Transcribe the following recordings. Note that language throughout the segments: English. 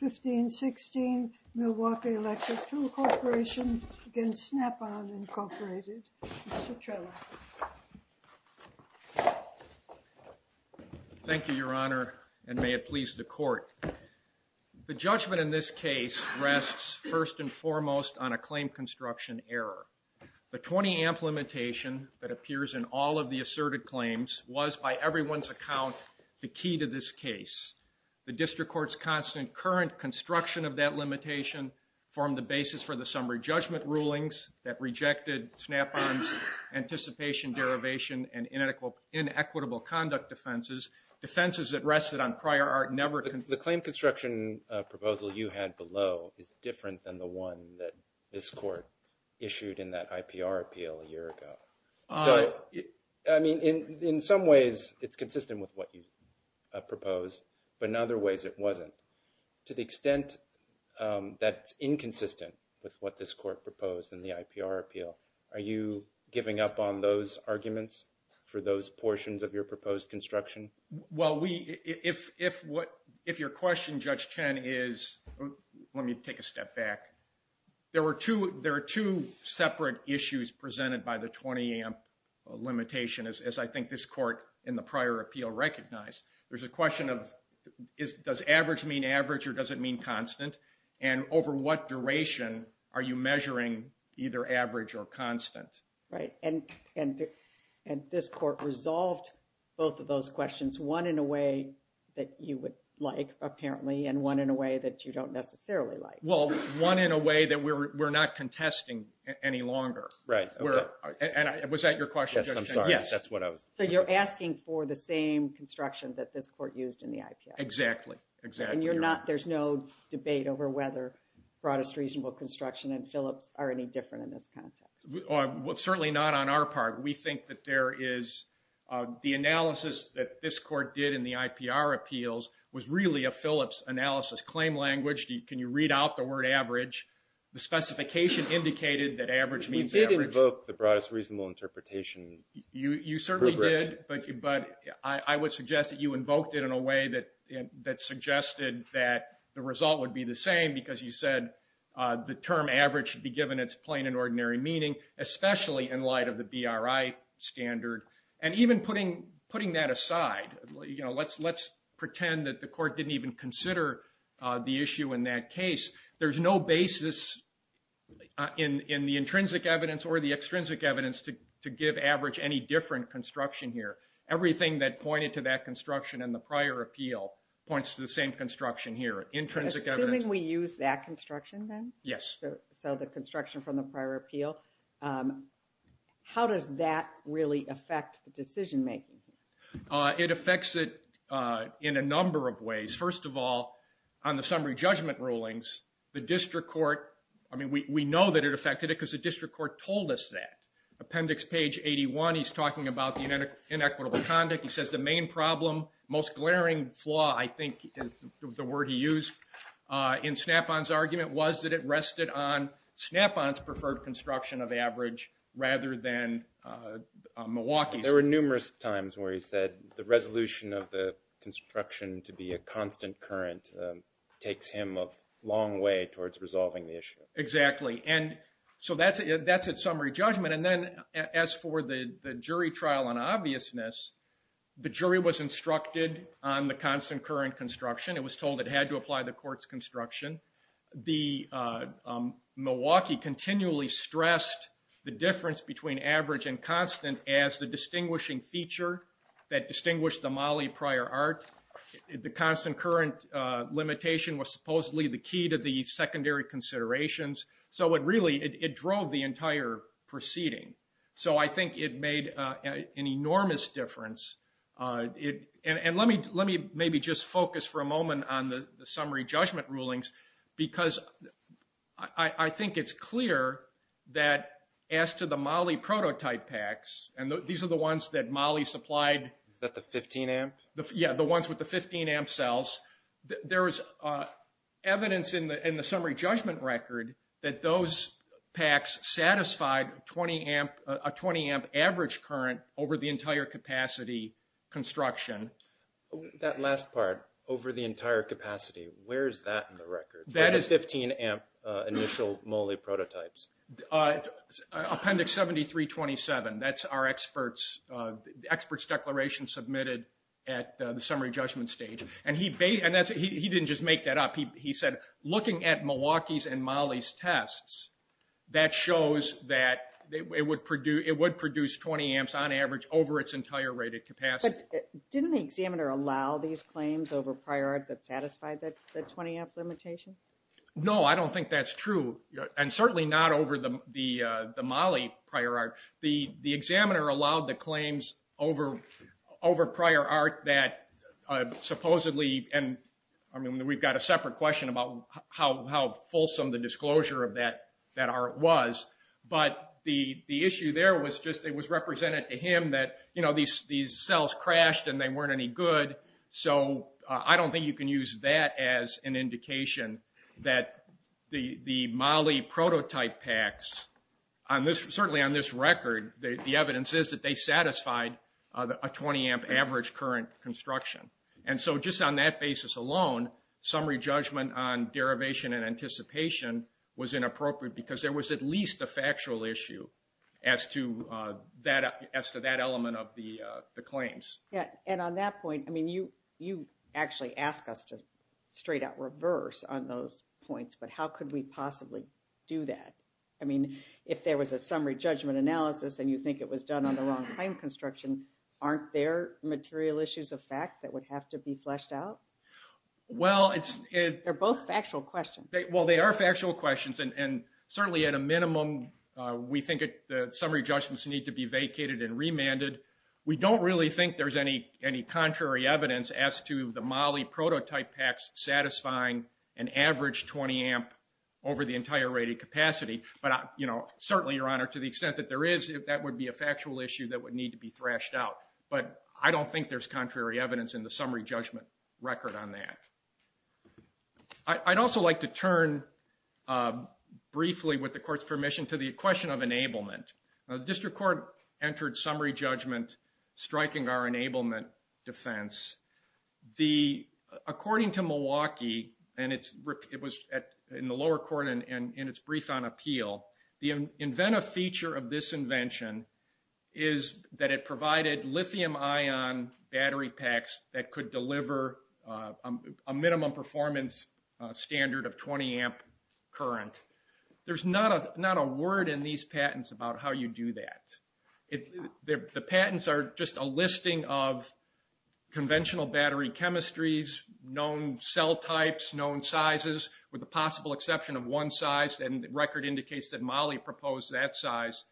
1516 Milwaukee Electric Tool Corporation v. Snap-on Incorporated. Mr. Trello. Thank you, Your Honor, and may it please the Court. The judgment in this case rests first and foremost on a claim construction error. The 20-amp limitation that appears in all of the asserted claims was, by everyone's account, the key to this case. The District Court's constant current construction of that limitation formed the basis for the summary judgment rulings that rejected Snap-on's anticipation, derivation, and inequitable conduct defenses. Defenses that rested on prior are never... The claim construction proposal you had below is different than the one that this Court issued in that IPR appeal a proposed, but in other ways it wasn't. To the extent that's inconsistent with what this Court proposed in the IPR appeal, are you giving up on those arguments for those portions of your proposed construction? Well, we... If what... If your question, Judge Chen, is... Let me take a step back. There were two... There are two separate issues presented by the 20-amp limitation, as I think this Court in the There's a question of, does average mean average, or does it mean constant? And over what duration are you measuring either average or constant? Right, and this Court resolved both of those questions, one in a way that you would like apparently, and one in a way that you don't necessarily like. Well, one in a way that we're not contesting any longer. Right. And was that your question? Yes, I'm sorry. Yes. That's what I was... So you're asking for the same construction that this Court used in the IPR? Exactly. Exactly. And you're not... There's no debate over whether broadest reasonable construction and Phillips are any different in this context? Well, certainly not on our part. We think that there is... The analysis that this Court did in the IPR appeals was really a Phillips analysis claim language. Can you read out the word average? The specification indicated that You certainly did, but I would suggest that you invoked it in a way that suggested that the result would be the same, because you said the term average should be given its plain and ordinary meaning, especially in light of the BRI standard. And even putting that aside, you know, let's pretend that the Court didn't even consider the issue in that case. There's no basis in the any different construction here. Everything that pointed to that construction in the prior appeal points to the same construction here. Intrinsic evidence... Assuming we use that construction then? Yes. So the construction from the prior appeal. How does that really affect the decision-making? It affects it in a number of ways. First of all, on the summary judgment rulings, the District Court... I mean, we know that it affected it because the District Court told us that. Appendix page 81, he's talking about the inequitable conduct. He says the main problem, most glaring flaw, I think is the word he used in Snap-on's argument, was that it rested on Snap-on's preferred construction of average rather than Milwaukee's. There were numerous times where he said the resolution of the construction to be a constant current takes him a long way towards resolving the issue. Exactly. And so that's it. That's a summary judgment. And then as for the jury trial on obviousness, the jury was instructed on the constant current construction. It was told it had to apply the Court's construction. Milwaukee continually stressed the difference between average and constant as the distinguishing feature that distinguished the Mollie prior art. The constant current limitation was supposedly the key to the secondary considerations. So it really, it drove the entire proceeding. So I think it made an enormous difference. And let me maybe just focus for a moment on the summary judgment rulings because I think it's clear that as to the Mollie prototype packs, and these are the ones that Mollie supplied... Is that the 15-amp? Yeah, the ones with the 15-amp cells. There is evidence in the summary judgment record that those packs satisfied a 20-amp average current over the entire capacity construction. That last part, over the entire capacity, where is that in the record? That is 15-amp initial Mollie prototypes. Appendix 7327. That's our experts' declaration submitted at the summary judgment stage. And he didn't just make that up. He said looking at Milwaukee's and Mollie's tests, that shows that it would produce 20 amps on average over its entire rated capacity. But didn't the examiner allow these claims over prior art that satisfied the 20-amp limitation? No, I don't think that's true. And certainly not over the Mollie prior art. The examiner allowed the claims over prior art that supposedly... And I mean, we've got a separate question about how fulsome the disclosure of that art was. But the issue there was just it was represented to him that, you know, these cells crashed and they weren't any good. So I don't think you can use that as an indication that the Mollie prototype packs, certainly on this record, the evidence is that they And so just on that basis alone, summary judgment on derivation and anticipation was inappropriate because there was at least a factual issue as to that element of the claims. And on that point, I mean, you actually ask us to straight out reverse on those points. But how could we possibly do that? I mean, if there was a summary judgment analysis and you think it was done on the wrong claim construction, aren't there material issues of fact that would have to be fleshed out? They're both factual questions. Well, they are factual questions. And certainly at a minimum, we think the summary judgments need to be vacated and remanded. We don't really think there's any contrary evidence as to the Mollie prototype packs satisfying an average 20-amp over the entire rated capacity. But, you know, certainly, Your Honor, to the extent that there is, that would be a factual issue that would need to be thrashed out. But I don't think there's contrary evidence in the summary judgment record on that. I'd also like to turn briefly, with the Court's permission, to the question of enablement. The District Court entered summary judgment striking our enablement defense. According to Milwaukee, and it was in the nature of this invention, is that it provided lithium-ion battery packs that could deliver a minimum performance standard of 20-amp current. There's not a word in these patents about how you do that. The patents are just a listing of conventional battery chemistries, known cell types, known sizes, with the possible exception of one size, and record indicates that Mollie proposed that size,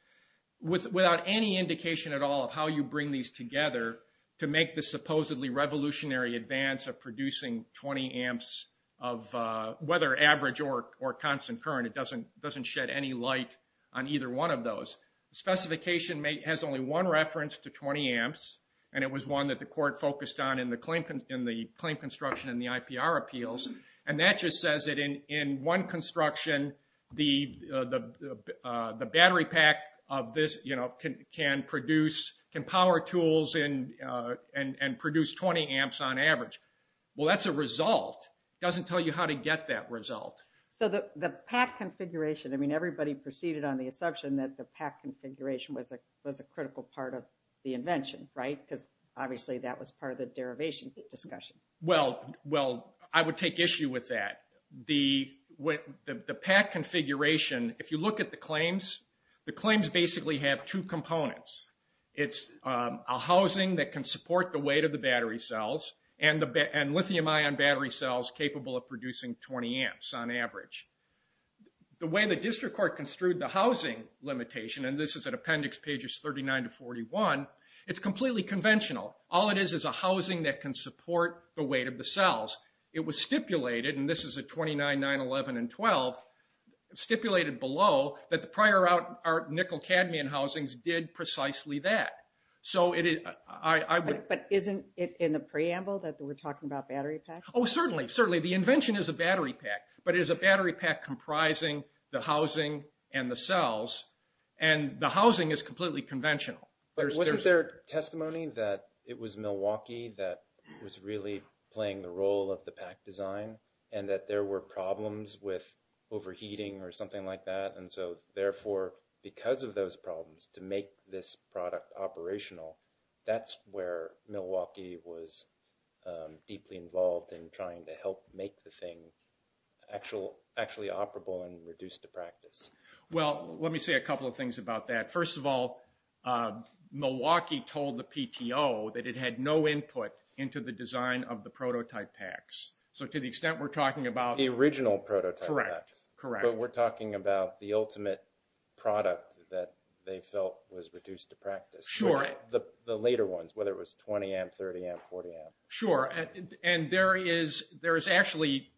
without any indication at all of how you bring these together to make the supposedly revolutionary advance of producing 20 amps of, whether average or constant current, it doesn't doesn't shed any light on either one of those. The specification has only one reference to 20 amps, and it was one that the Court focused on in the claim construction and the IPR appeals. And that just says that in one construction, the battery pack of this, you know, can produce, can power tools and produce 20 amps on average. Well that's a result. It doesn't tell you how to get that result. So the pack configuration, I mean everybody proceeded on the assumption that the pack configuration was a critical part of the invention, right? Because obviously that was part of the The pack configuration, if you look at the claims, the claims basically have two components. It's a housing that can support the weight of the battery cells, and lithium-ion battery cells capable of producing 20 amps on average. The way the District Court construed the housing limitation, and this is an appendix pages 39 to 41, it's completely conventional. All it is is a housing that can support the weight of the cells. It was stipulated, and this is at 29, 9, 11, and 12, stipulated below that the prior out our nickel cadmium housings did precisely that. So it is, I would... But isn't it in the preamble that we're talking about battery packs? Oh certainly, certainly. The invention is a battery pack, but it is a battery pack comprising the housing and the cells, and the housing is completely conventional. But wasn't there testimony that it was Milwaukee that was really playing the role of the pack design, and that there were problems with overheating or something like that? And so therefore, because of those problems to make this product operational, that's where Milwaukee was deeply involved in trying to help make the thing actually operable and reduced to practice. Well, let me say a couple of things about that. First of all, Milwaukee told the design of the prototype packs. So to the extent we're talking about... The original prototype packs. Correct, correct. But we're talking about the ultimate product that they felt was reduced to practice. Sure. The later ones, whether it was 20 amp, 30 amp, 40 amp. Sure, and there is, there is actually,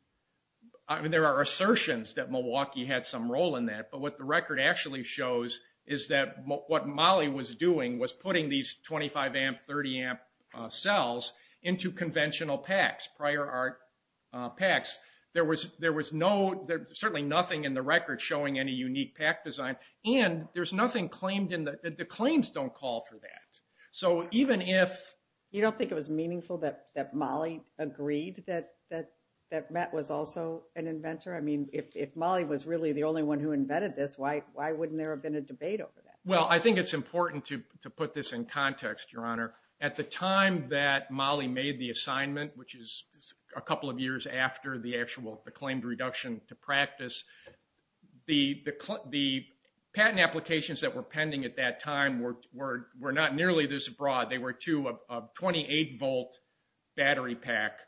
I mean there are assertions that Milwaukee had some role in that, but what the record actually shows is that what Molly was doing was putting these 25 amp, 30 amp cells into conventional packs, prior art packs. There was, there was no, there's certainly nothing in the record showing any unique pack design, and there's nothing claimed in the... The claims don't call for that. So even if... You don't think it was meaningful that Molly agreed that Matt was also an inventor? I mean, if Molly was really the only one who invented this, why wouldn't there have been a debate over that? Well, I think it's important to put this in context, Your Honor. At the time that Molly made the assignment, which is a couple of years after the actual, the claimed reduction to practice, the patent applications that were pending at that time were not nearly this broad. They were two of 28 volt battery pack,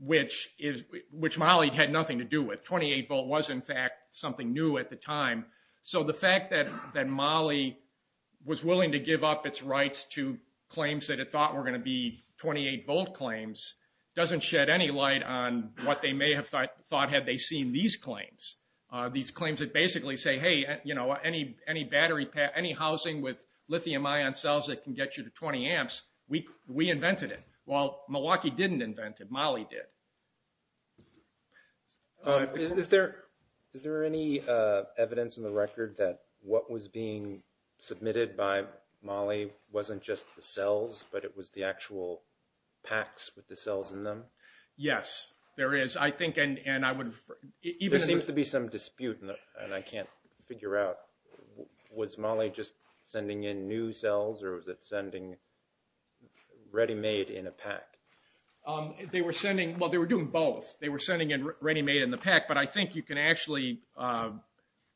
which is, which Molly had nothing to do with. 28 volt was in fact something new at the time. So the fact that Molly was willing to give up its rights to claims that it thought were going to be 28 volt claims doesn't shed any light on what they may have thought had they seen these claims. These claims that basically say, hey, you know, any battery pack, any housing with lithium ion cells that can get you to 20 amps, we invented it. Well, Is there any evidence in the record that what was being submitted by Molly wasn't just the cells, but it was the actual packs with the cells in them? Yes, there is. I think, and I would even... There seems to be some dispute, and I can't figure out, was Molly just sending in new cells, or was it sending ready-made in a pack? They were sending, well, they were doing both. They were sending in ready-made in a pack, but I think you can actually,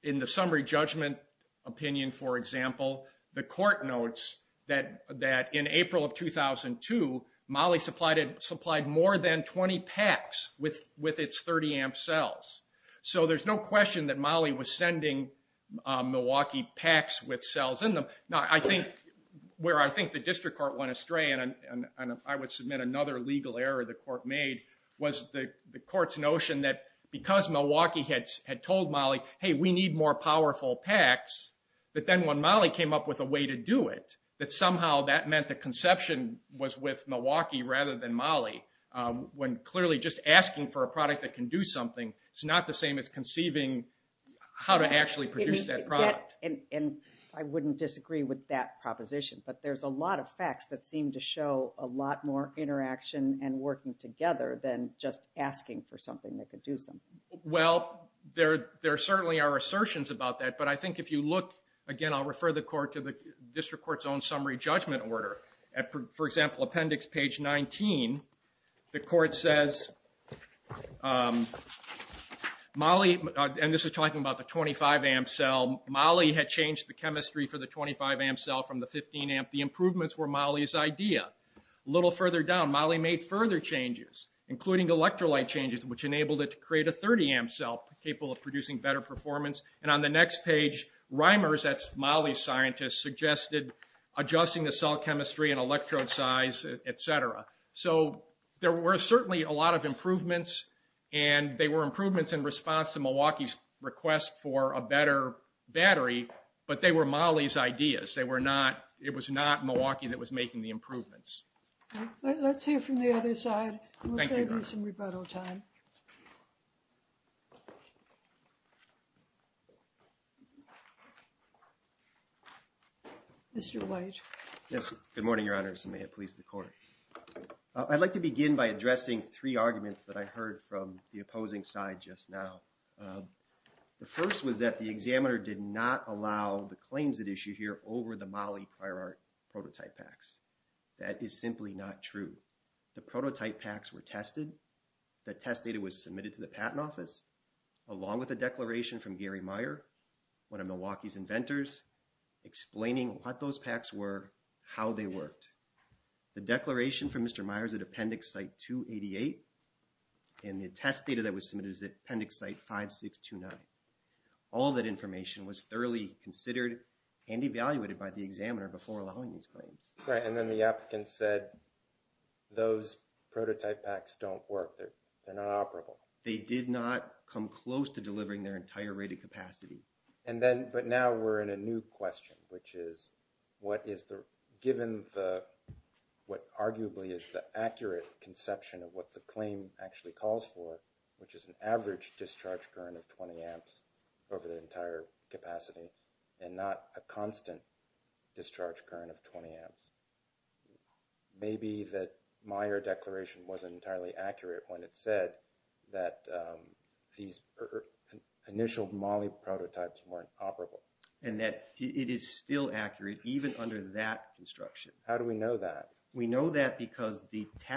in the summary judgment opinion, for example, the court notes that in April of 2002, Molly supplied more than 20 packs with its 30 amp cells. So there's no question that Molly was sending Milwaukee packs with cells in them. Now, I think, where I think the district court went astray, and I would submit another legal error the court made, was the court's notion that because Milwaukee had told Molly, hey, we need more powerful packs, that then when Molly came up with a way to do it, that somehow that meant the conception was with Milwaukee rather than Molly, when clearly just asking for a product that can do something, it's not the same as conceiving how to actually produce that product. And I wouldn't disagree with that proposition, but there's a lot of facts that seem to show a lot more interaction and working together than just asking for something that could do something. Well, there certainly are assertions about that, but I think if you look, again, I'll refer the court to the district court's own summary judgment order. For example, appendix page 19, the court says, Molly, and this is talking about the 25 amp cell, Molly had changed the chemistry for the 25 amp cell from the 15 amp. The improvements were Molly's idea. A little further down, Molly made further changes, including electrolyte changes, which enabled it to create a 30 amp cell capable of producing better performance. And on the next page, Reimers, that's Molly's scientist, suggested adjusting the cell chemistry and electrode size, etc. So there were certainly a lot of improvements, and they were improvements in response to Milwaukee's request for a better battery, but they were Molly's ideas. It was not Milwaukee that was making the improvements. Let's hear from the other side, and we'll save you some rebuttal time. Mr. White. Yes, good morning, Your Honor, and may it please the court. I'd like to begin by addressing three arguments that I heard from the opposing side just now. The first was that the examiner did not allow the claims at issue here over the Molly Prior Art prototype packs. That is simply not true. The prototype packs were tested. The test data was submitted to the Patent Office, along with a declaration from Gary Meyer, one of Milwaukee's inventors, explaining what those packs were, how they worked. The declaration from Mr. Meyer is at Appendix Site 5629. All that information was thoroughly considered and evaluated by the examiner before allowing these claims. Right, and then the applicant said, those prototype packs don't work. They're not operable. They did not come close to delivering their entire rated capacity. But now we're in a new question, which is, given what arguably is the accurate conception of what the claim actually calls for, which is an average discharge current of 20 amps over the entire capacity, and not a constant discharge current of 20 amps, maybe that Meyer declaration wasn't entirely accurate when it said that these initial Molly prototypes weren't operable. And that it is still accurate, even under that construction. How do we know that? We know that because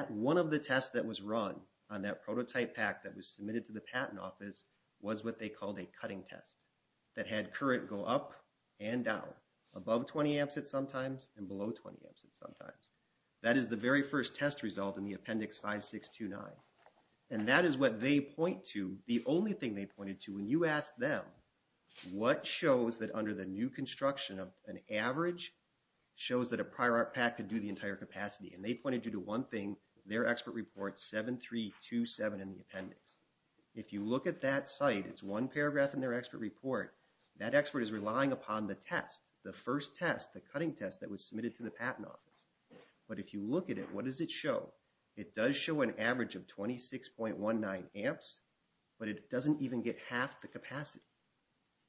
one of the tests that was run on that prototype pack that was submitted to the Patent Office was what they called a cutting test that had current go up and down, above 20 amps at some times and below 20 amps at some times. That is the very first test result in the Appendix 5629. And that is what they point to, the only thing they pointed to, when you ask them what shows that under the new construction of an average shows that a And they pointed you to one thing, their expert report 7327 in the Appendix. If you look at that site, it's one paragraph in their expert report, that expert is relying upon the test, the first test, the cutting test that was submitted to the Patent Office. But if you look at it, what does it show? It does show an average of 26.19 amps, but it doesn't even get half the capacity,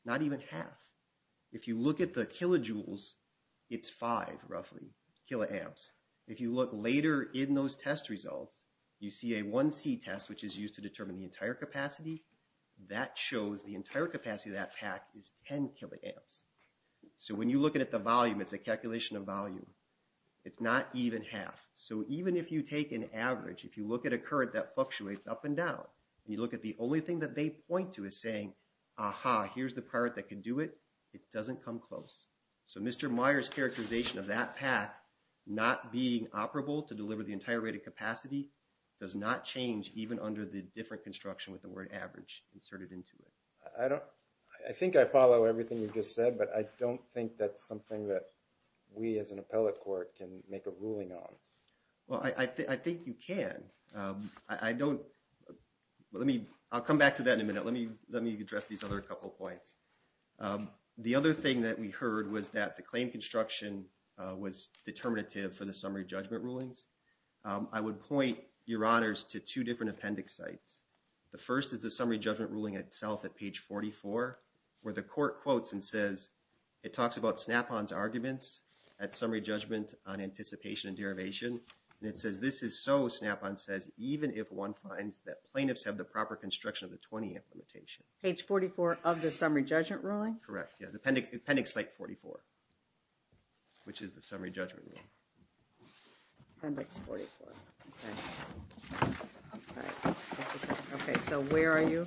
not even half. If you look at the kilojoules, it's five, kiloamps. If you look later in those test results, you see a 1C test, which is used to determine the entire capacity, that shows the entire capacity of that pack is 10 kiloamps. So when you look at the volume, it's a calculation of volume. It's not even half. So even if you take an average, if you look at a current that fluctuates up and down, and you look at the only thing that they point to is saying, aha, here's the current that can do it, it doesn't come close. So Mr. Meyer's characterization of that pack not being operable to deliver the entire rate of capacity does not change even under the different construction with the word average inserted into it. I don't, I think I follow everything you just said, but I don't think that's something that we as an appellate court can make a ruling on. Well, I think you can. I don't, let me, I'll come back to that in a minute. Let me address these other couple points. The other thing that we heard was that the claim construction was determinative for the summary judgment rulings. I would point your honors to two different appendix sites. The first is the summary judgment ruling itself at page 44, where the court quotes and says, it talks about Snap-on's arguments at summary judgment on anticipation and derivation. And it says, this is so, Snap-on says, even if one finds that plaintiffs have the proper construction of the 20 implementation. Page 44 of the summary judgment ruling? Correct, yeah, the appendix site 44, which is the summary judgment ruling. Appendix 44. Okay, so where are you?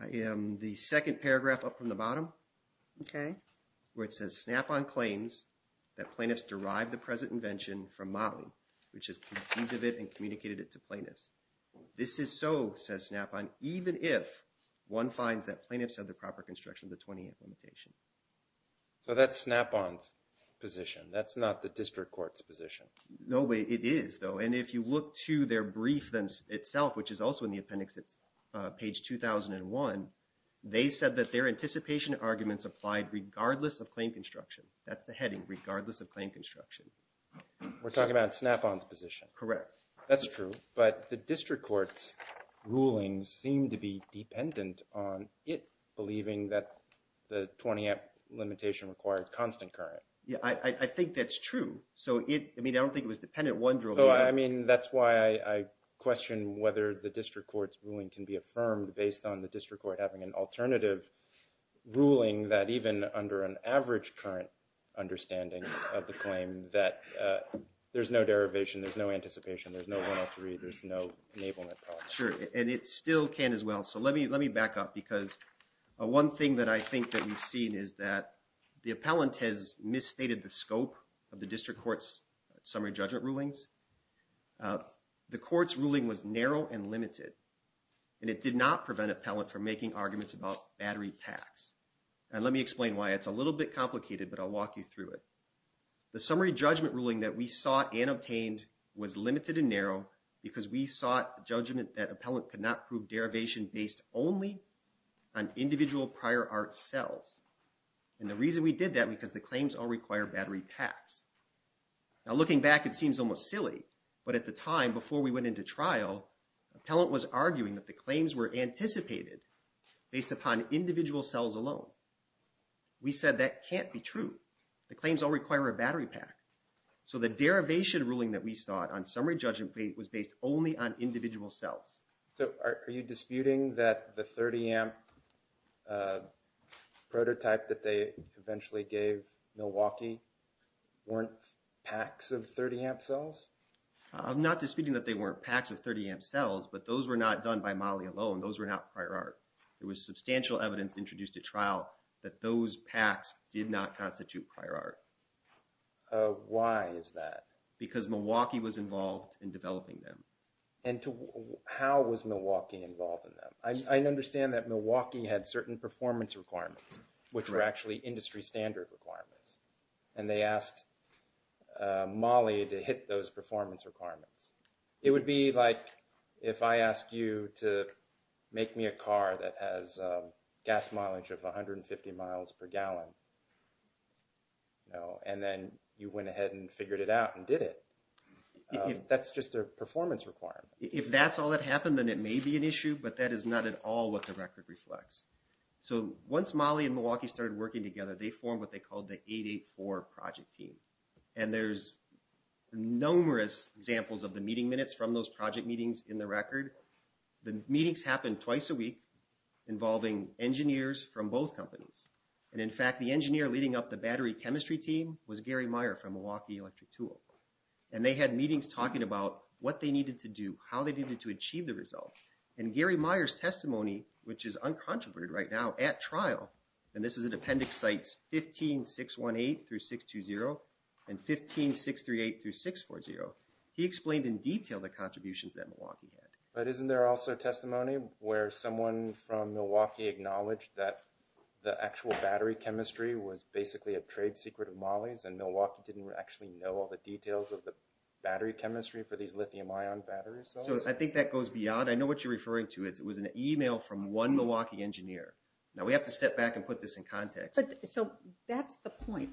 I am the second paragraph up from the bottom. Okay. Where it says, Snap-on claims that plaintiffs derived the present invention from Motley, which is conceived of it and communicated it to plaintiffs. This is so, says Snap-on, even if one finds that plaintiffs have the proper construction of the 20 implementation. So that's Snap-on's position. That's not the district court's position. No, it is, though. And if you look to their brief itself, which is also in the appendix, it's page 2001, they said that their anticipation arguments applied regardless of claim construction. That's the heading, regardless of claim construction. We're talking about Snap-on's position. Correct. That's true. But the district court's ruling seemed to be dependent on it believing that the 20 limitation required constant current. Yeah, I think that's true. So it, I mean, I don't think it was dependent on one ruling. So, I mean, that's why I question whether the district court's ruling can be affirmed based on the district court having an alternative ruling that even under an average current understanding of the claim that there's no derivation, there's no anticipation, there's no 103, there's no enablement problem. Sure. And it still can as well. So let me back up because one thing that I think that we've seen is that the appellant has misstated the scope of the district court's summary judgment rulings. The court's ruling was narrow and limited and it did not prevent appellant from making arguments about battery packs. And let me explain why. It's a little bit complicated, but I'll walk you through it. The summary judgment ruling that we sought and obtained was limited and narrow because we sought judgment that appellant could not prove derivation based only on individual prior art cells. And the reason we did that because the claims all seem almost silly, but at the time before we went into trial, appellant was arguing that the claims were anticipated based upon individual cells alone. We said that can't be true. The claims all require a battery pack. So the derivation ruling that we sought on summary judgment was based only on individual cells. So are you disputing that the 30 amp prototype that they eventually gave Milwaukee weren't packs of 30 amp cells? I'm not disputing that they weren't packs of 30 amp cells, but those were not done by Molly alone. Those were not prior art. There was substantial evidence introduced at trial that those packs did not constitute prior art. Why is that? Because Milwaukee was involved in developing them. And how was Milwaukee involved in them? I understand that Milwaukee had certain performance requirements, which were actually industry standard requirements. And they asked Molly to hit those performance requirements. It would be like if I asked you to make me a car that has gas mileage of 150 miles per gallon, and then you went ahead and figured it out and did it. That's just a performance requirement. If that's all that happened, then it may be an issue, but that is not at all what the record reflects. So once Molly and Milwaukee started working together, they formed what they called the 884 Project Team. And there's numerous examples of the meeting minutes from those project meetings in the record. The meetings happened twice a week involving engineers from both companies. And in fact, the engineer leading up the battery chemistry team was Gary Meyer from Milwaukee Electric Tool. And they had meetings talking about what they needed to do, how they needed to achieve the results. And Gary Meyer's testimony, which is uncontroverted right now at trial, and this is in Appendix Sites 15-618-620 and 15-638-640, he explained in detail the contributions that Milwaukee had. But isn't there also testimony where someone from Milwaukee acknowledged that the actual battery chemistry was basically a trade secret of Molly's and Milwaukee didn't actually know all the details of the battery chemistry for these lithium ion battery cells? So I think that goes beyond. I know what you're referring to. It was an email from one Milwaukee engineer. Now, we have to step back and put this in context. But so that's the point.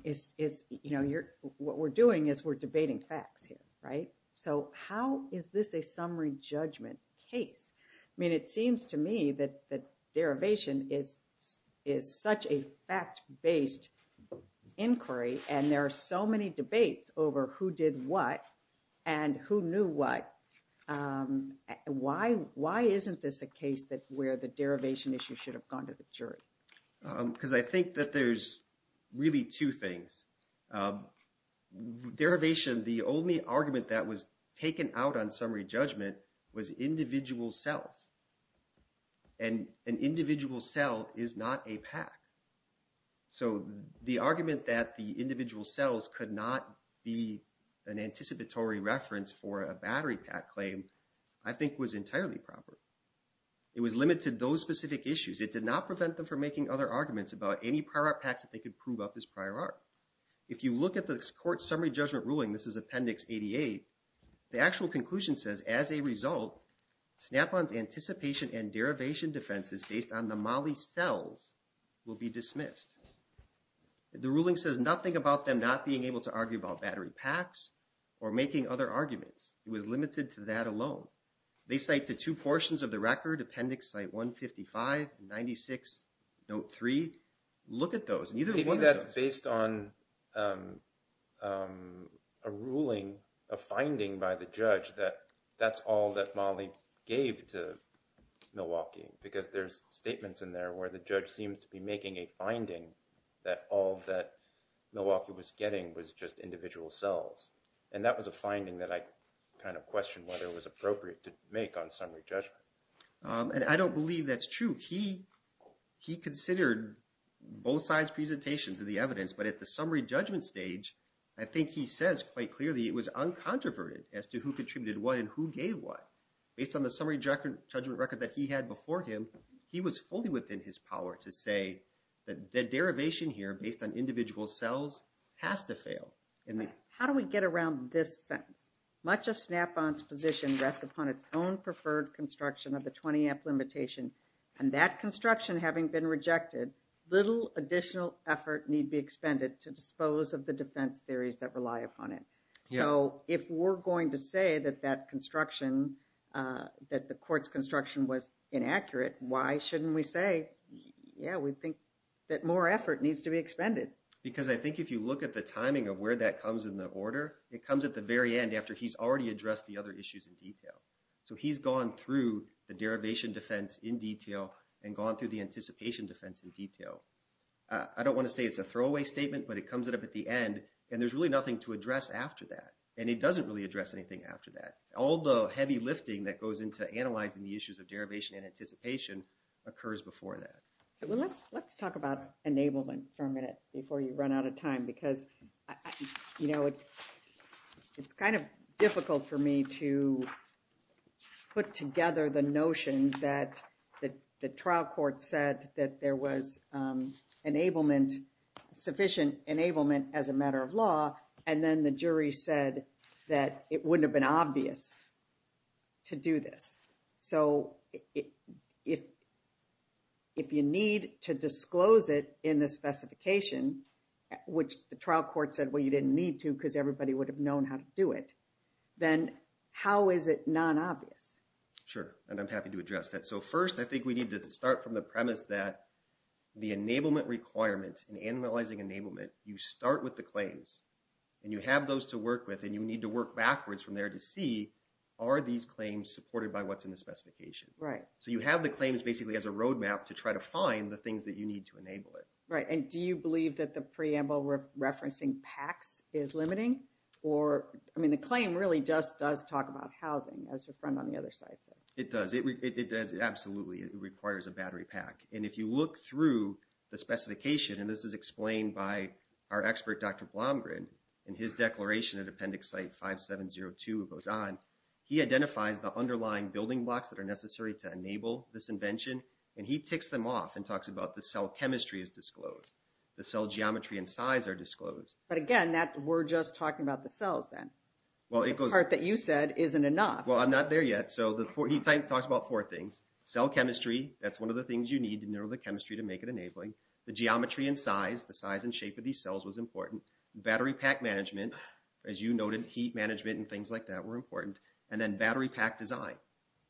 What we're doing is we're debating facts here, right? So how is this a summary judgment case? I mean, it seems to me that derivation is such a fact-based inquiry and there are so many debates over who did what and who knew what. Why isn't this a case where the derivation issue should have gone to the jury? Because I think that there's really two things. Derivation, the only argument that was taken out on summary judgment was individual cells. And an individual cell is not a pack. So the argument that the individual cells could not be an anticipatory reference for a battery pack claim, I think, was entirely proper. It was limited to those specific issues. It did not prevent them from making other arguments about any prior art packs that they could prove up as prior art. If you look at the court's summary judgment ruling, this is Appendix 88, the actual conclusion says, as a result, Snap-on's anticipation and derivation defenses based on the Molly's cells will be dismissed. The ruling says nothing about them not being able to argue about battery packs or making other arguments. It was limited to that alone. They cite the two portions of the record, Appendix 155, 96, Note 3. Look at those. I think that's based on a ruling, a finding by the judge that that's all that Molly gave to Milwaukee. Because there's statements in there where the judge seems to be making a finding that all that Milwaukee was getting was just individual cells. And that was a finding that I kind of questioned whether it was appropriate to make on summary judgment. And I don't believe that's true. He considered both sides' presentations of the evidence. But at the summary judgment stage, I think he says quite clearly it was uncontroverted as to contributed what and who gave what. Based on the summary judgment record that he had before him, he was fully within his power to say that the derivation here based on individual cells has to fail. How do we get around this sentence? Much of Snap-on's position rests upon its own preferred construction of the 20-app limitation. And that construction having been rejected, little additional effort need be expended to that construction, that the court's construction was inaccurate. Why shouldn't we say, yeah, we think that more effort needs to be expended? Because I think if you look at the timing of where that comes in the order, it comes at the very end after he's already addressed the other issues in detail. So he's gone through the derivation defense in detail and gone through the anticipation defense in detail. I don't want to say it's a throwaway statement, but it comes up at the end. And there's really nothing to address after that. And it doesn't really address anything after that. All the heavy lifting that goes into analyzing the issues of derivation and anticipation occurs before that. Well, let's talk about enablement for a minute before you run out of time because, you know, it's kind of difficult for me to put together the notion that the trial court said that there was sufficient enablement as a matter of law. And then the jury said that it wouldn't have been obvious to do this. So if you need to disclose it in the specification, which the trial court said, well, you didn't need to because everybody would have known how to do it. Then how is it non-obvious? Sure. And I'm happy to address that. So first, I think we need to start from the premise that the enablement requirement and analyzing enablement, you start with the claims and you have those to work with, and you need to work backwards from there to see, are these claims supported by what's in the specification? Right. So you have the claims basically as a roadmap to try to find the things that you need to enable it. Right. And do you believe that the preamble referencing PACS is limiting? Or, I mean, the claim really just does talk about housing as your friend on the other side said. It does. It does. Absolutely. It requires a battery pack. And if you look through the specification, and this is explained by our expert, Dr. Blomgren, in his declaration at Appendix Site 5702, it goes on, he identifies the underlying building blocks that are necessary to enable this invention. And he ticks them off and talks about the cell chemistry is disclosed. The cell geometry and size are disclosed. But again, that we're just talking about the cells then. Well, it goes... The part that you said isn't enough. Well, I'm not there yet. So he talks about four things. Cell chemistry. That's one of the things you need to know the chemistry to make it enabling. The geometry and size. The size and shape of these cells was important. Battery pack management. As you noted, heat management and things like that were important. And then battery pack design.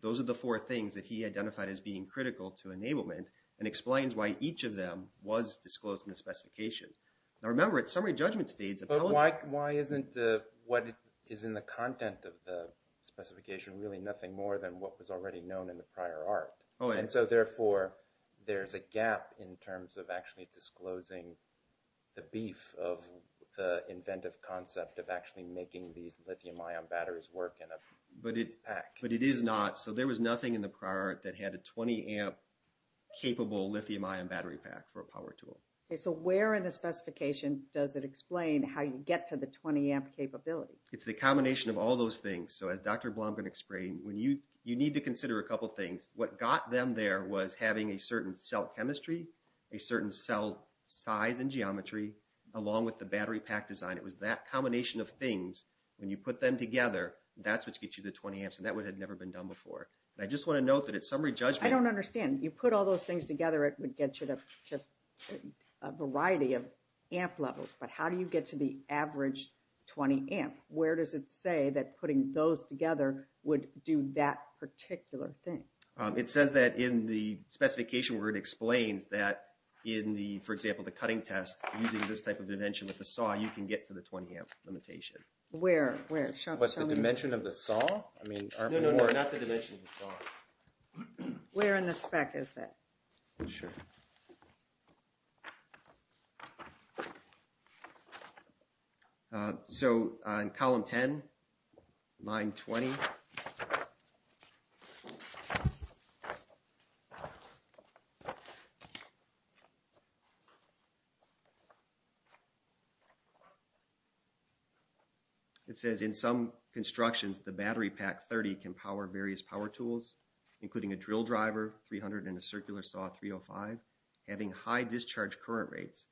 Those are the four things that he identified as being critical to enablement and explains why each of them was disclosed in the specification. Now, remember, it's summary judgment states... Why isn't the... What is in the content of the specification really nothing more than what was already known in the prior art? And so therefore, there's a gap in terms of actually disclosing the beef of the inventive concept of actually making these lithium-ion batteries work in a pack. But it is not. So there was nothing in the prior art that had a 20-amp capable lithium-ion battery pack for a power tool. So where in the specification does it explain how you get to the 20-amp capability? It's the combination of all those things. So as Dr. Blomgren explained, you need to consider a couple things. What got them there was having a certain cell chemistry, a certain cell size and geometry, along with the battery pack design. It was that combination of things. When you put them together, that's what gets you the 20 amps. And that would have never been done before. And I just want to note that it's summary judgment... I don't understand. You put all those things together, it would get you to a variety of amp levels. But how do you get to the average 20-amp? Where does it say that putting those together would do that particular thing? It says that in the specification where it explains that in the, for example, the cutting test using this type of dimension with the saw, you can get to the 20-amp limitation. Where? Where? What's the dimension of the saw? I mean... No, no, not the dimension of the saw. Where in the spec is that? Sure. So, in column 10, line 20, it says in some constructions the battery pack 30 can power various power tools. Including a drill driver, 300, and a circular saw, 305. Having high discharge current rates.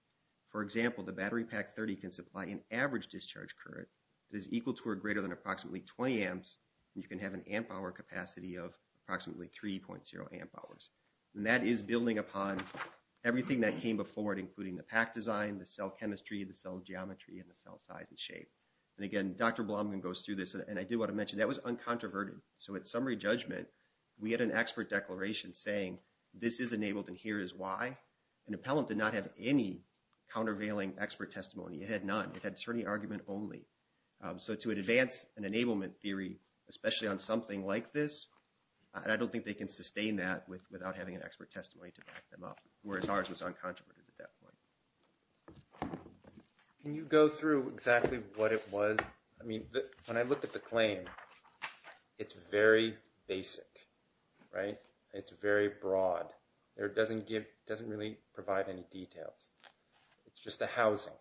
For example, the battery pack 30 can supply an average discharge current that is equal to or greater than approximately 20 amps. You can have an amp hour capacity of approximately 3.0 amp hours. And that is building upon everything that came before it, including the pack design, the cell chemistry, the cell geometry, and the cell size and shape. And again, Dr. Blomgren goes through this, and I do want to mention, that was uncontroverted. So, at summary judgment, we had an expert declaration saying, this is enabled and here is why. An appellant did not have any countervailing expert testimony. It had none. It had attorney argument only. So, to advance an enablement theory, especially on something like this, I don't think they can sustain that without having an expert testimony to back them up. Whereas ours was uncontroverted at that point. Can you go through exactly what it was? I mean, when I looked at the claim, it's very basic, right? It's very broad. There doesn't give, doesn't really provide any details. It's just a housing.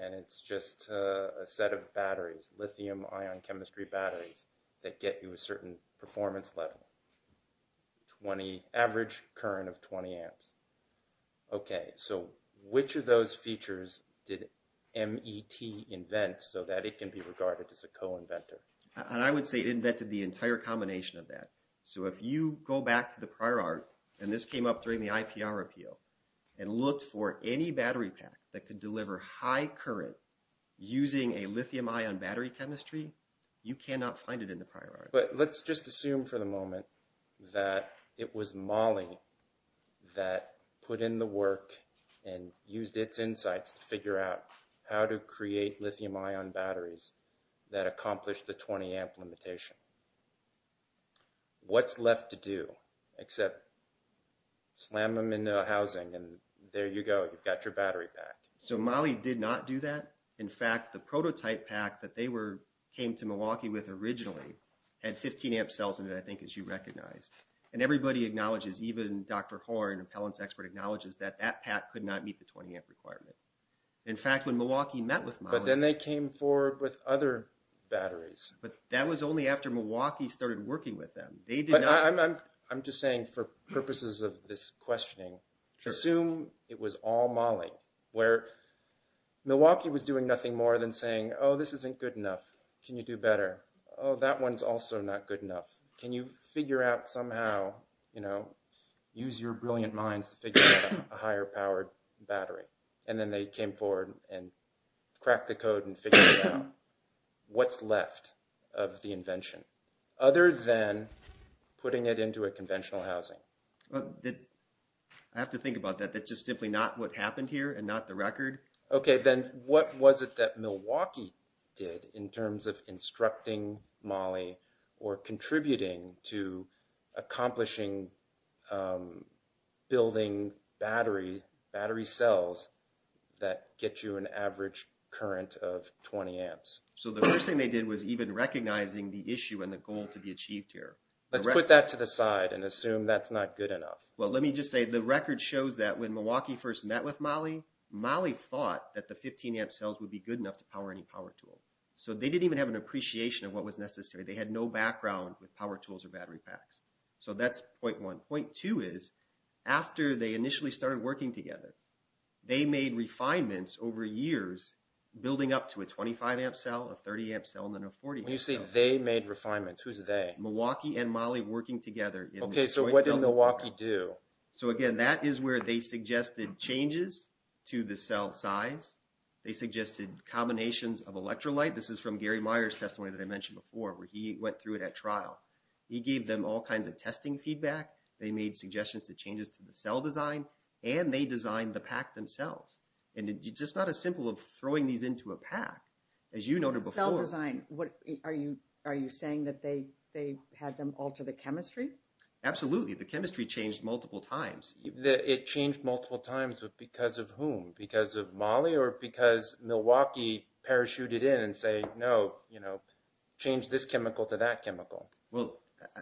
And it's just a set of batteries, lithium ion chemistry batteries, that get you a certain performance level. 20, average current of 20 amps. Okay. So, which of those features did MET invent so that it can be regarded as a co-inventor? And I would say it invented the entire combination of that. So, if you go back to the prior art, and this came up during the IPR appeal, and looked for any battery pack that could deliver high current using a lithium ion battery chemistry, you cannot find it in the prior art. Let's just assume for the moment that it was MAHLI that put in the work and used its insights to figure out how to create lithium ion batteries that accomplished the 20 amp limitation. What's left to do except slam them into a housing and there you go, you've got your battery pack. So, MAHLI did not do that. In fact, the prototype pack that they came to Milwaukee with originally, had 15 amp cells in it, I think, as you recognized. And everybody acknowledges, even Dr. Horne, an appellant expert, acknowledges that that pack could not meet the 20 amp requirement. In fact, when Milwaukee met with MAHLI... But then they came forward with other batteries. But that was only after Milwaukee started working with them. They did not... I'm just saying for purposes of this questioning, assume it was all MAHLI, where Milwaukee was doing nothing more than saying, oh, this isn't good enough. Can you do better? Oh, that one's also not good enough. Can you figure out somehow, you know, use your brilliant minds to figure out a higher powered battery? And then they came forward and cracked the code and figured out what's left of the invention, other than putting it into a conventional housing. I have to think about that. That's just simply not what happened here and not the record. Okay. Then what was it that Milwaukee did in terms of instructing MAHLI or contributing to accomplishing building battery cells that get you an average current of 20 amps? So the first thing they did was even recognizing the issue and the goal to be achieved here. Let's put that to the side and assume that's not good enough. Well, let me just say the record shows that when Milwaukee first met with MAHLI, MAHLI thought that the 15 amp cells would be good enough to power any power tool. So they didn't even have an appreciation of what was necessary. They had no background with power tools or battery packs. So that's point one. Point two is after they initially started working together, they made refinements over years, building up to a 25 amp cell, a 30 amp cell, and then a 40 amp cell. You say they made refinements. Who's they? Milwaukee and MAHLI working together. Okay. So what did Milwaukee do? So again, that is where they suggested changes to the cell size. They suggested combinations of electrolyte. This is from Gary Meyer's testimony that I mentioned before, where he went through it at trial. He gave them all kinds of testing feedback. They made suggestions to changes to the cell design, and they designed the pack themselves. And it's just not as simple as throwing these into a pack. As you noted before... Cell design. Are you saying that they had them alter the chemistry? Absolutely. The chemistry changed multiple times. It changed multiple times, but because of whom? Because of MAHLI or because Milwaukee parachuted in and say, no, change this chemical to that chemical. Well,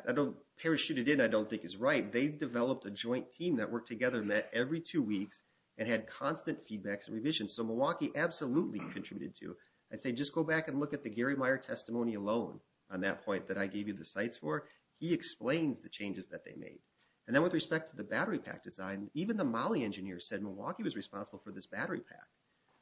I don't... Parachuted in, I don't think is right. They developed a joint team that worked together on that every two weeks and had constant feedbacks and revisions. So Milwaukee absolutely contributed to it. I say, just go back and look at the Gary Meyer testimony alone on that point that I gave you the sites for. He explains the changes that they made. And then with respect to the battery pack design, even the MAHLI engineer said Milwaukee was responsible for this battery pack.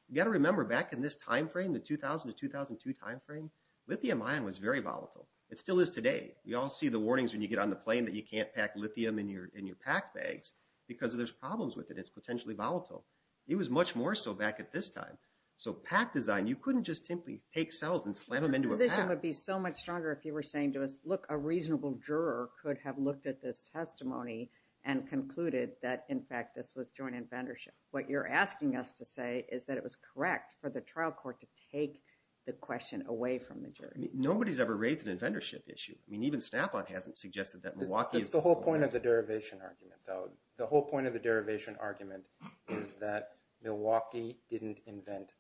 You got to remember back in this timeframe, the 2000 to 2002 timeframe, lithium ion was very volatile. It still is today. We all see the warnings when you get on the plane that you can't pack lithium in your packed bags because there's problems with it. It's potentially volatile. It was much more so back at this time. So pack design, you couldn't just simply take cells and slam them into a pack. Your position would be so much stronger if you were saying to us, a reasonable juror could have looked at this testimony and concluded that, in fact, this was joint inventorship. What you're asking us to say is that it was correct for the trial court to take the question away from the jury. Nobody's ever raised an inventorship issue. I mean, even Snap-on hasn't suggested that. That's the whole point of the derivation argument, though. The whole point of the derivation argument is that Milwaukee didn't invent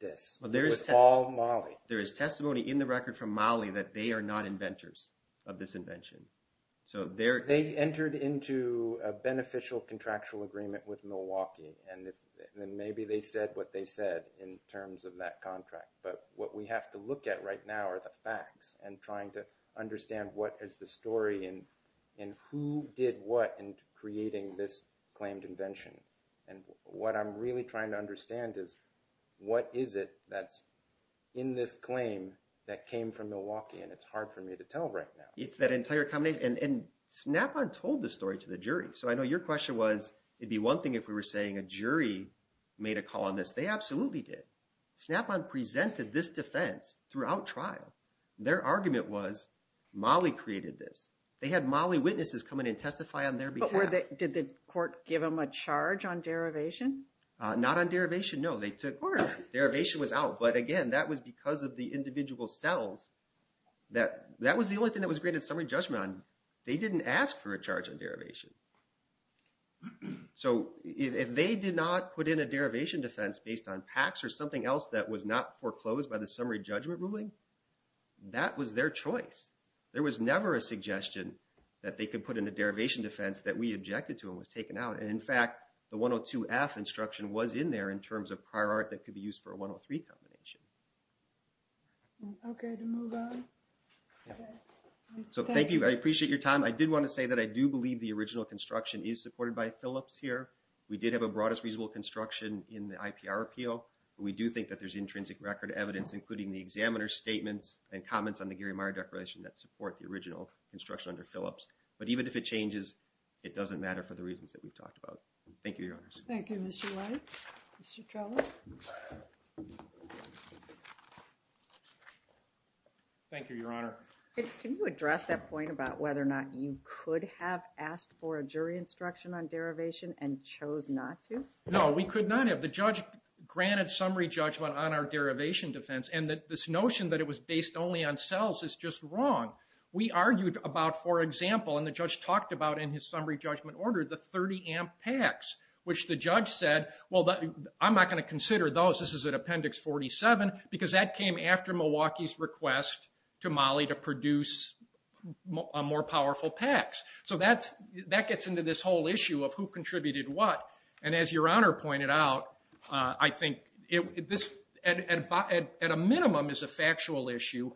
this. It was all MAHLI. There is testimony in the record from MAHLI that they are not inventors. Of this invention. So they entered into a beneficial contractual agreement with Milwaukee. And then maybe they said what they said in terms of that contract. But what we have to look at right now are the facts and trying to understand what is the story and who did what in creating this claimed invention. And what I'm really trying to understand is, what is it that's in this claim that came from Milwaukee? And it's hard for me to tell right now. It's that entire combination. And Snap-on told the story to the jury. So I know your question was, it'd be one thing if we were saying a jury made a call on this. They absolutely did. Snap-on presented this defense throughout trial. Their argument was MAHLI created this. They had MAHLI witnesses come in and testify on their behalf. Did the court give them a charge on derivation? Not on derivation, no. They took order. Derivation was out. But again, that was because of the individual cells that that was the only thing that was granted summary judgment on. They didn't ask for a charge on derivation. So if they did not put in a derivation defense based on PACS or something else that was not foreclosed by the summary judgment ruling, that was their choice. There was never a suggestion that they could put in a derivation defense that we objected to and was taken out. And in fact, the 102F instruction was in there in terms of prior art that could be used for a 103 combination. Okay, to move on. So thank you. I appreciate your time. I did want to say that I do believe the original construction is supported by Phillips here. We did have a broadest reasonable construction in the IPR appeal. But we do think that there's intrinsic record evidence, including the examiner's statements and comments on the Gary Meyer Declaration that support the original construction under Phillips. But even if it changes, it doesn't matter for the reasons that we've talked about. Thank you, Your Honors. Thank you, Mr. White. Mr. Trello. Thank you, Your Honor. Can you address that point about whether or not you could have asked for a jury instruction on derivation and chose not to? No, we could not have. The judge granted summary judgment on our derivation defense. And this notion that it was based only on cells is just wrong. We argued about, for example, and the judge talked about in his summary judgment order, the 30-amp packs, which the judge said, well, I'm not going to consider those. This is an Appendix 47. Because that came after Milwaukee's request to Molly to produce more powerful packs. So that gets into this whole issue of who contributed what. And as Your Honor pointed out, I think at a minimum is a factual issue.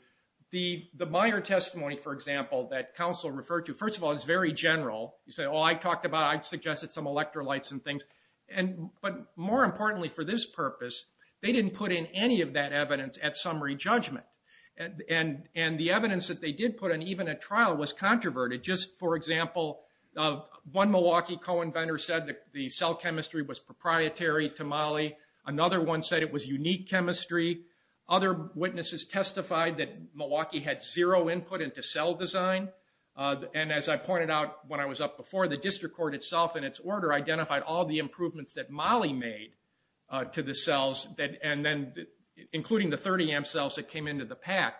The Meyer testimony, for example, that counsel referred to, first of all, it's very general. You say, oh, I talked about, I suggested some electrolytes and things. But more importantly for this purpose, they didn't put in any of that evidence at summary judgment. And the evidence that they did put in, even at trial, was controverted. Just for example, one Milwaukee co-inventor said the cell chemistry was proprietary to Molly. Another one said it was unique chemistry. Other witnesses testified that Milwaukee had zero input into cell design. And as I pointed out when I was up before, the district court itself in its order identified all the improvements that Molly made to the cells, including the 30 amp cells that came into the pack.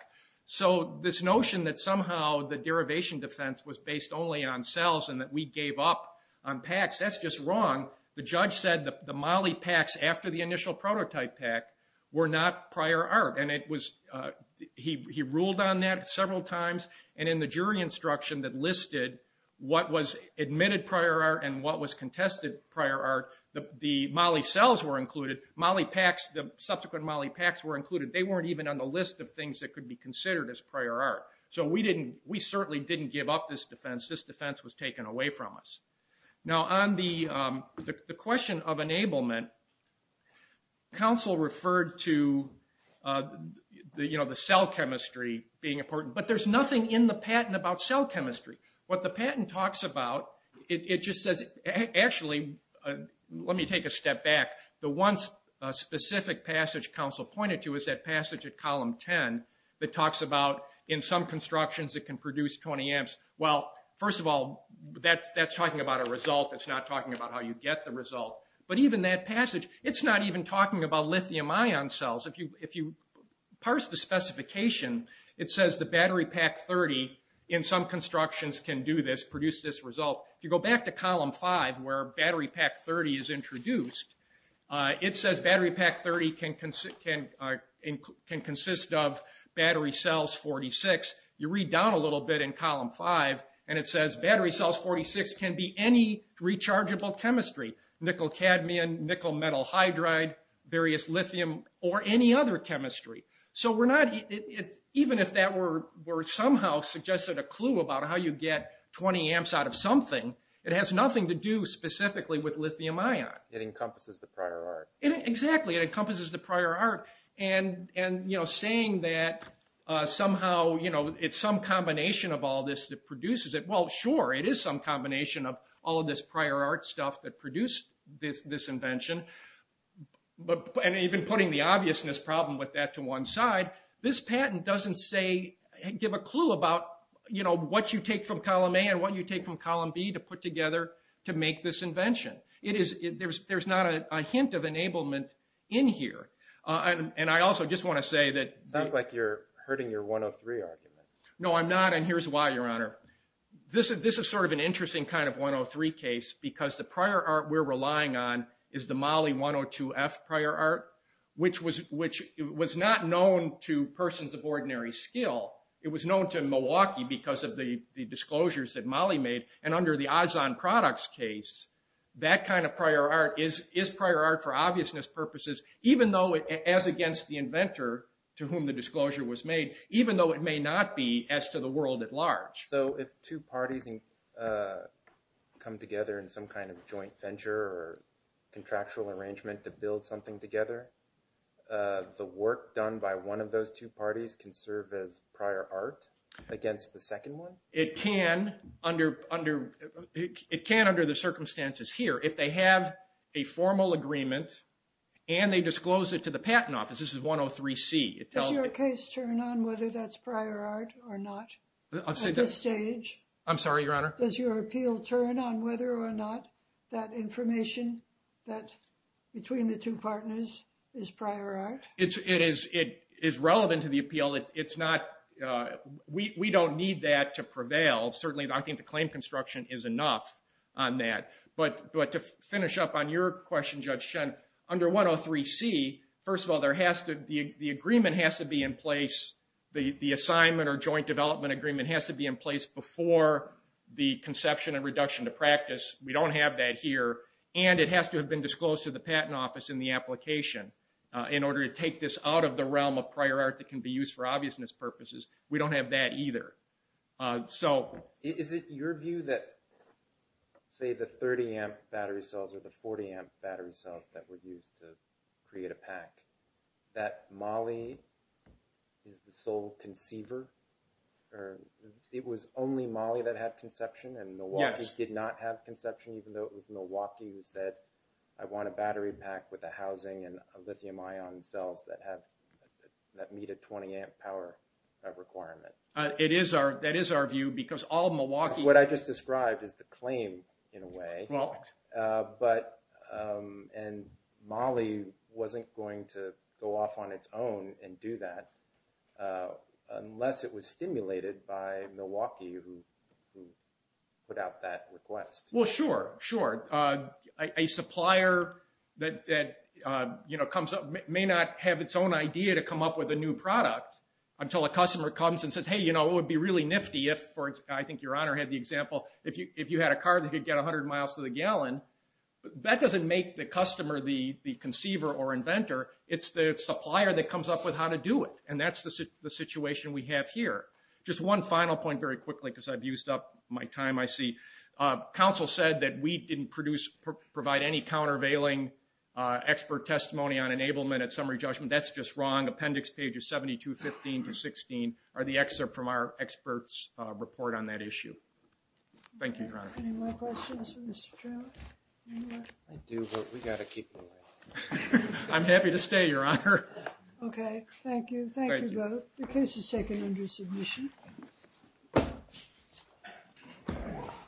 So this notion that somehow the derivation defense was based only on cells and that we gave up on packs, that's just wrong. The judge said the Molly packs after the initial prototype pack were not prior art. And he ruled on that several times. And in the jury instruction that listed what was admitted prior art and what was contested prior art, the Molly cells were included. The subsequent Molly packs were included. They weren't even on the list of things that could be considered as prior art. So we certainly didn't give up this defense. This defense was taken away from us. Now on the question of enablement, counsel referred to the cell chemistry being important. But there's nothing in the patent about cell chemistry. What the patent talks about, it just says, actually, let me take a step back. The one specific passage counsel pointed to is that passage at column 10 that talks about in some constructions it can produce 20 amps. Well, first of all, that's talking about a result. It's not talking about how you get the result. But even that passage, it's not even talking about lithium ion cells. If you parse the specification, it says the battery pack 30 in some constructions can do this, produce this result. If you go back to column 5, where battery pack 30 is introduced, it says battery pack 30 can consist of battery cells 46. You read down a little bit in column 5, and it says battery cells 46 can be any rechargeable chemistry, nickel cadmium, nickel metal hydride, So even if that were somehow suggested a clue about how you get 20 amps out of something, it has nothing to do specifically with lithium ion. It encompasses the prior art. Exactly. It encompasses the prior art. And saying that somehow it's some combination of all this that produces it. Well, sure, it is some combination of all of this prior art stuff that produced this invention. And even putting the obviousness problem with that to one side, this patent doesn't give a clue about what you take from column A and what you take from column B to put together to make this invention. There's not a hint of enablement in here. And I also just want to say that... Sounds like you're hurting your 103 argument. No, I'm not. And here's why, Your Honor. This is sort of an interesting kind of 103 case because the prior art we're relying on is the Moly 102F prior art, which was not known to persons of ordinary skill. It was known to Milwaukee because of the disclosures that Moly made. And under the Azzon Products case, that kind of prior art is prior art for obviousness purposes, even though as against the inventor to whom the disclosure was made, even though it may not be as to the world at large. So if two parties come together in some kind of joint venture or contractual arrangement to build something together, the work done by one of those two parties can serve as prior art against the second one? It can under the circumstances here. If they have a formal agreement and they disclose it to the Patent Office, this is 103C. Does your case turn on whether that's prior art or not at this stage? I'm sorry, Your Honor. Does your appeal turn on whether or not that information that between the two partners is prior art? It is relevant to the appeal. We don't need that to prevail. Certainly, I think the claim construction is enough on that. But to finish up on your question, Judge Shen, under 103C, first of all, the agreement has to be in place, the assignment or joint development agreement has to be in place before the conception and reduction to practice. We don't have that here. And it has to have been disclosed to the Patent Office in the application in order to take this out of the realm of prior art that can be used for obviousness purposes. We don't have that either. Is it your view that, say, the 30-amp battery cells or the 40-amp battery cells that were used to create a PAC, that MOLLE is the sole conceiver or it was only MOLLE that had conception and Milwaukee did not have conception even though it was Milwaukee who said, I want a battery PAC with a housing and a lithium-ion cells that meet a 20-amp power requirement? That is our view because all Milwaukee... What I just described is the claim in a way. And MOLLE wasn't going to go off on its own and do that unless it was stimulated by Milwaukee who put out that request. Well, sure, sure. A supplier that comes up may not have its own idea to come up with a new product until a customer comes and says, hey, you know, it would be really nifty if, I think Your Honor had the example, if you had a car that could get 100 miles to the gallon, that doesn't make the customer the conceiver or inventor. It's the supplier that comes up with how to do it. And that's the situation we have here. Just one final point very quickly because I've used up my time, I see. Counsel said that we didn't provide any countervailing expert testimony on enablement at summary judgment. That's just wrong. Appendix pages 72, 15 to 16 are the excerpt from our experts' report on that issue. Thank you, Your Honor. Any more questions for Mr. Trout? I do, but we've got to keep going. I'm happy to stay, Your Honor. Okay, thank you. Thank you both. The case is taken under submission.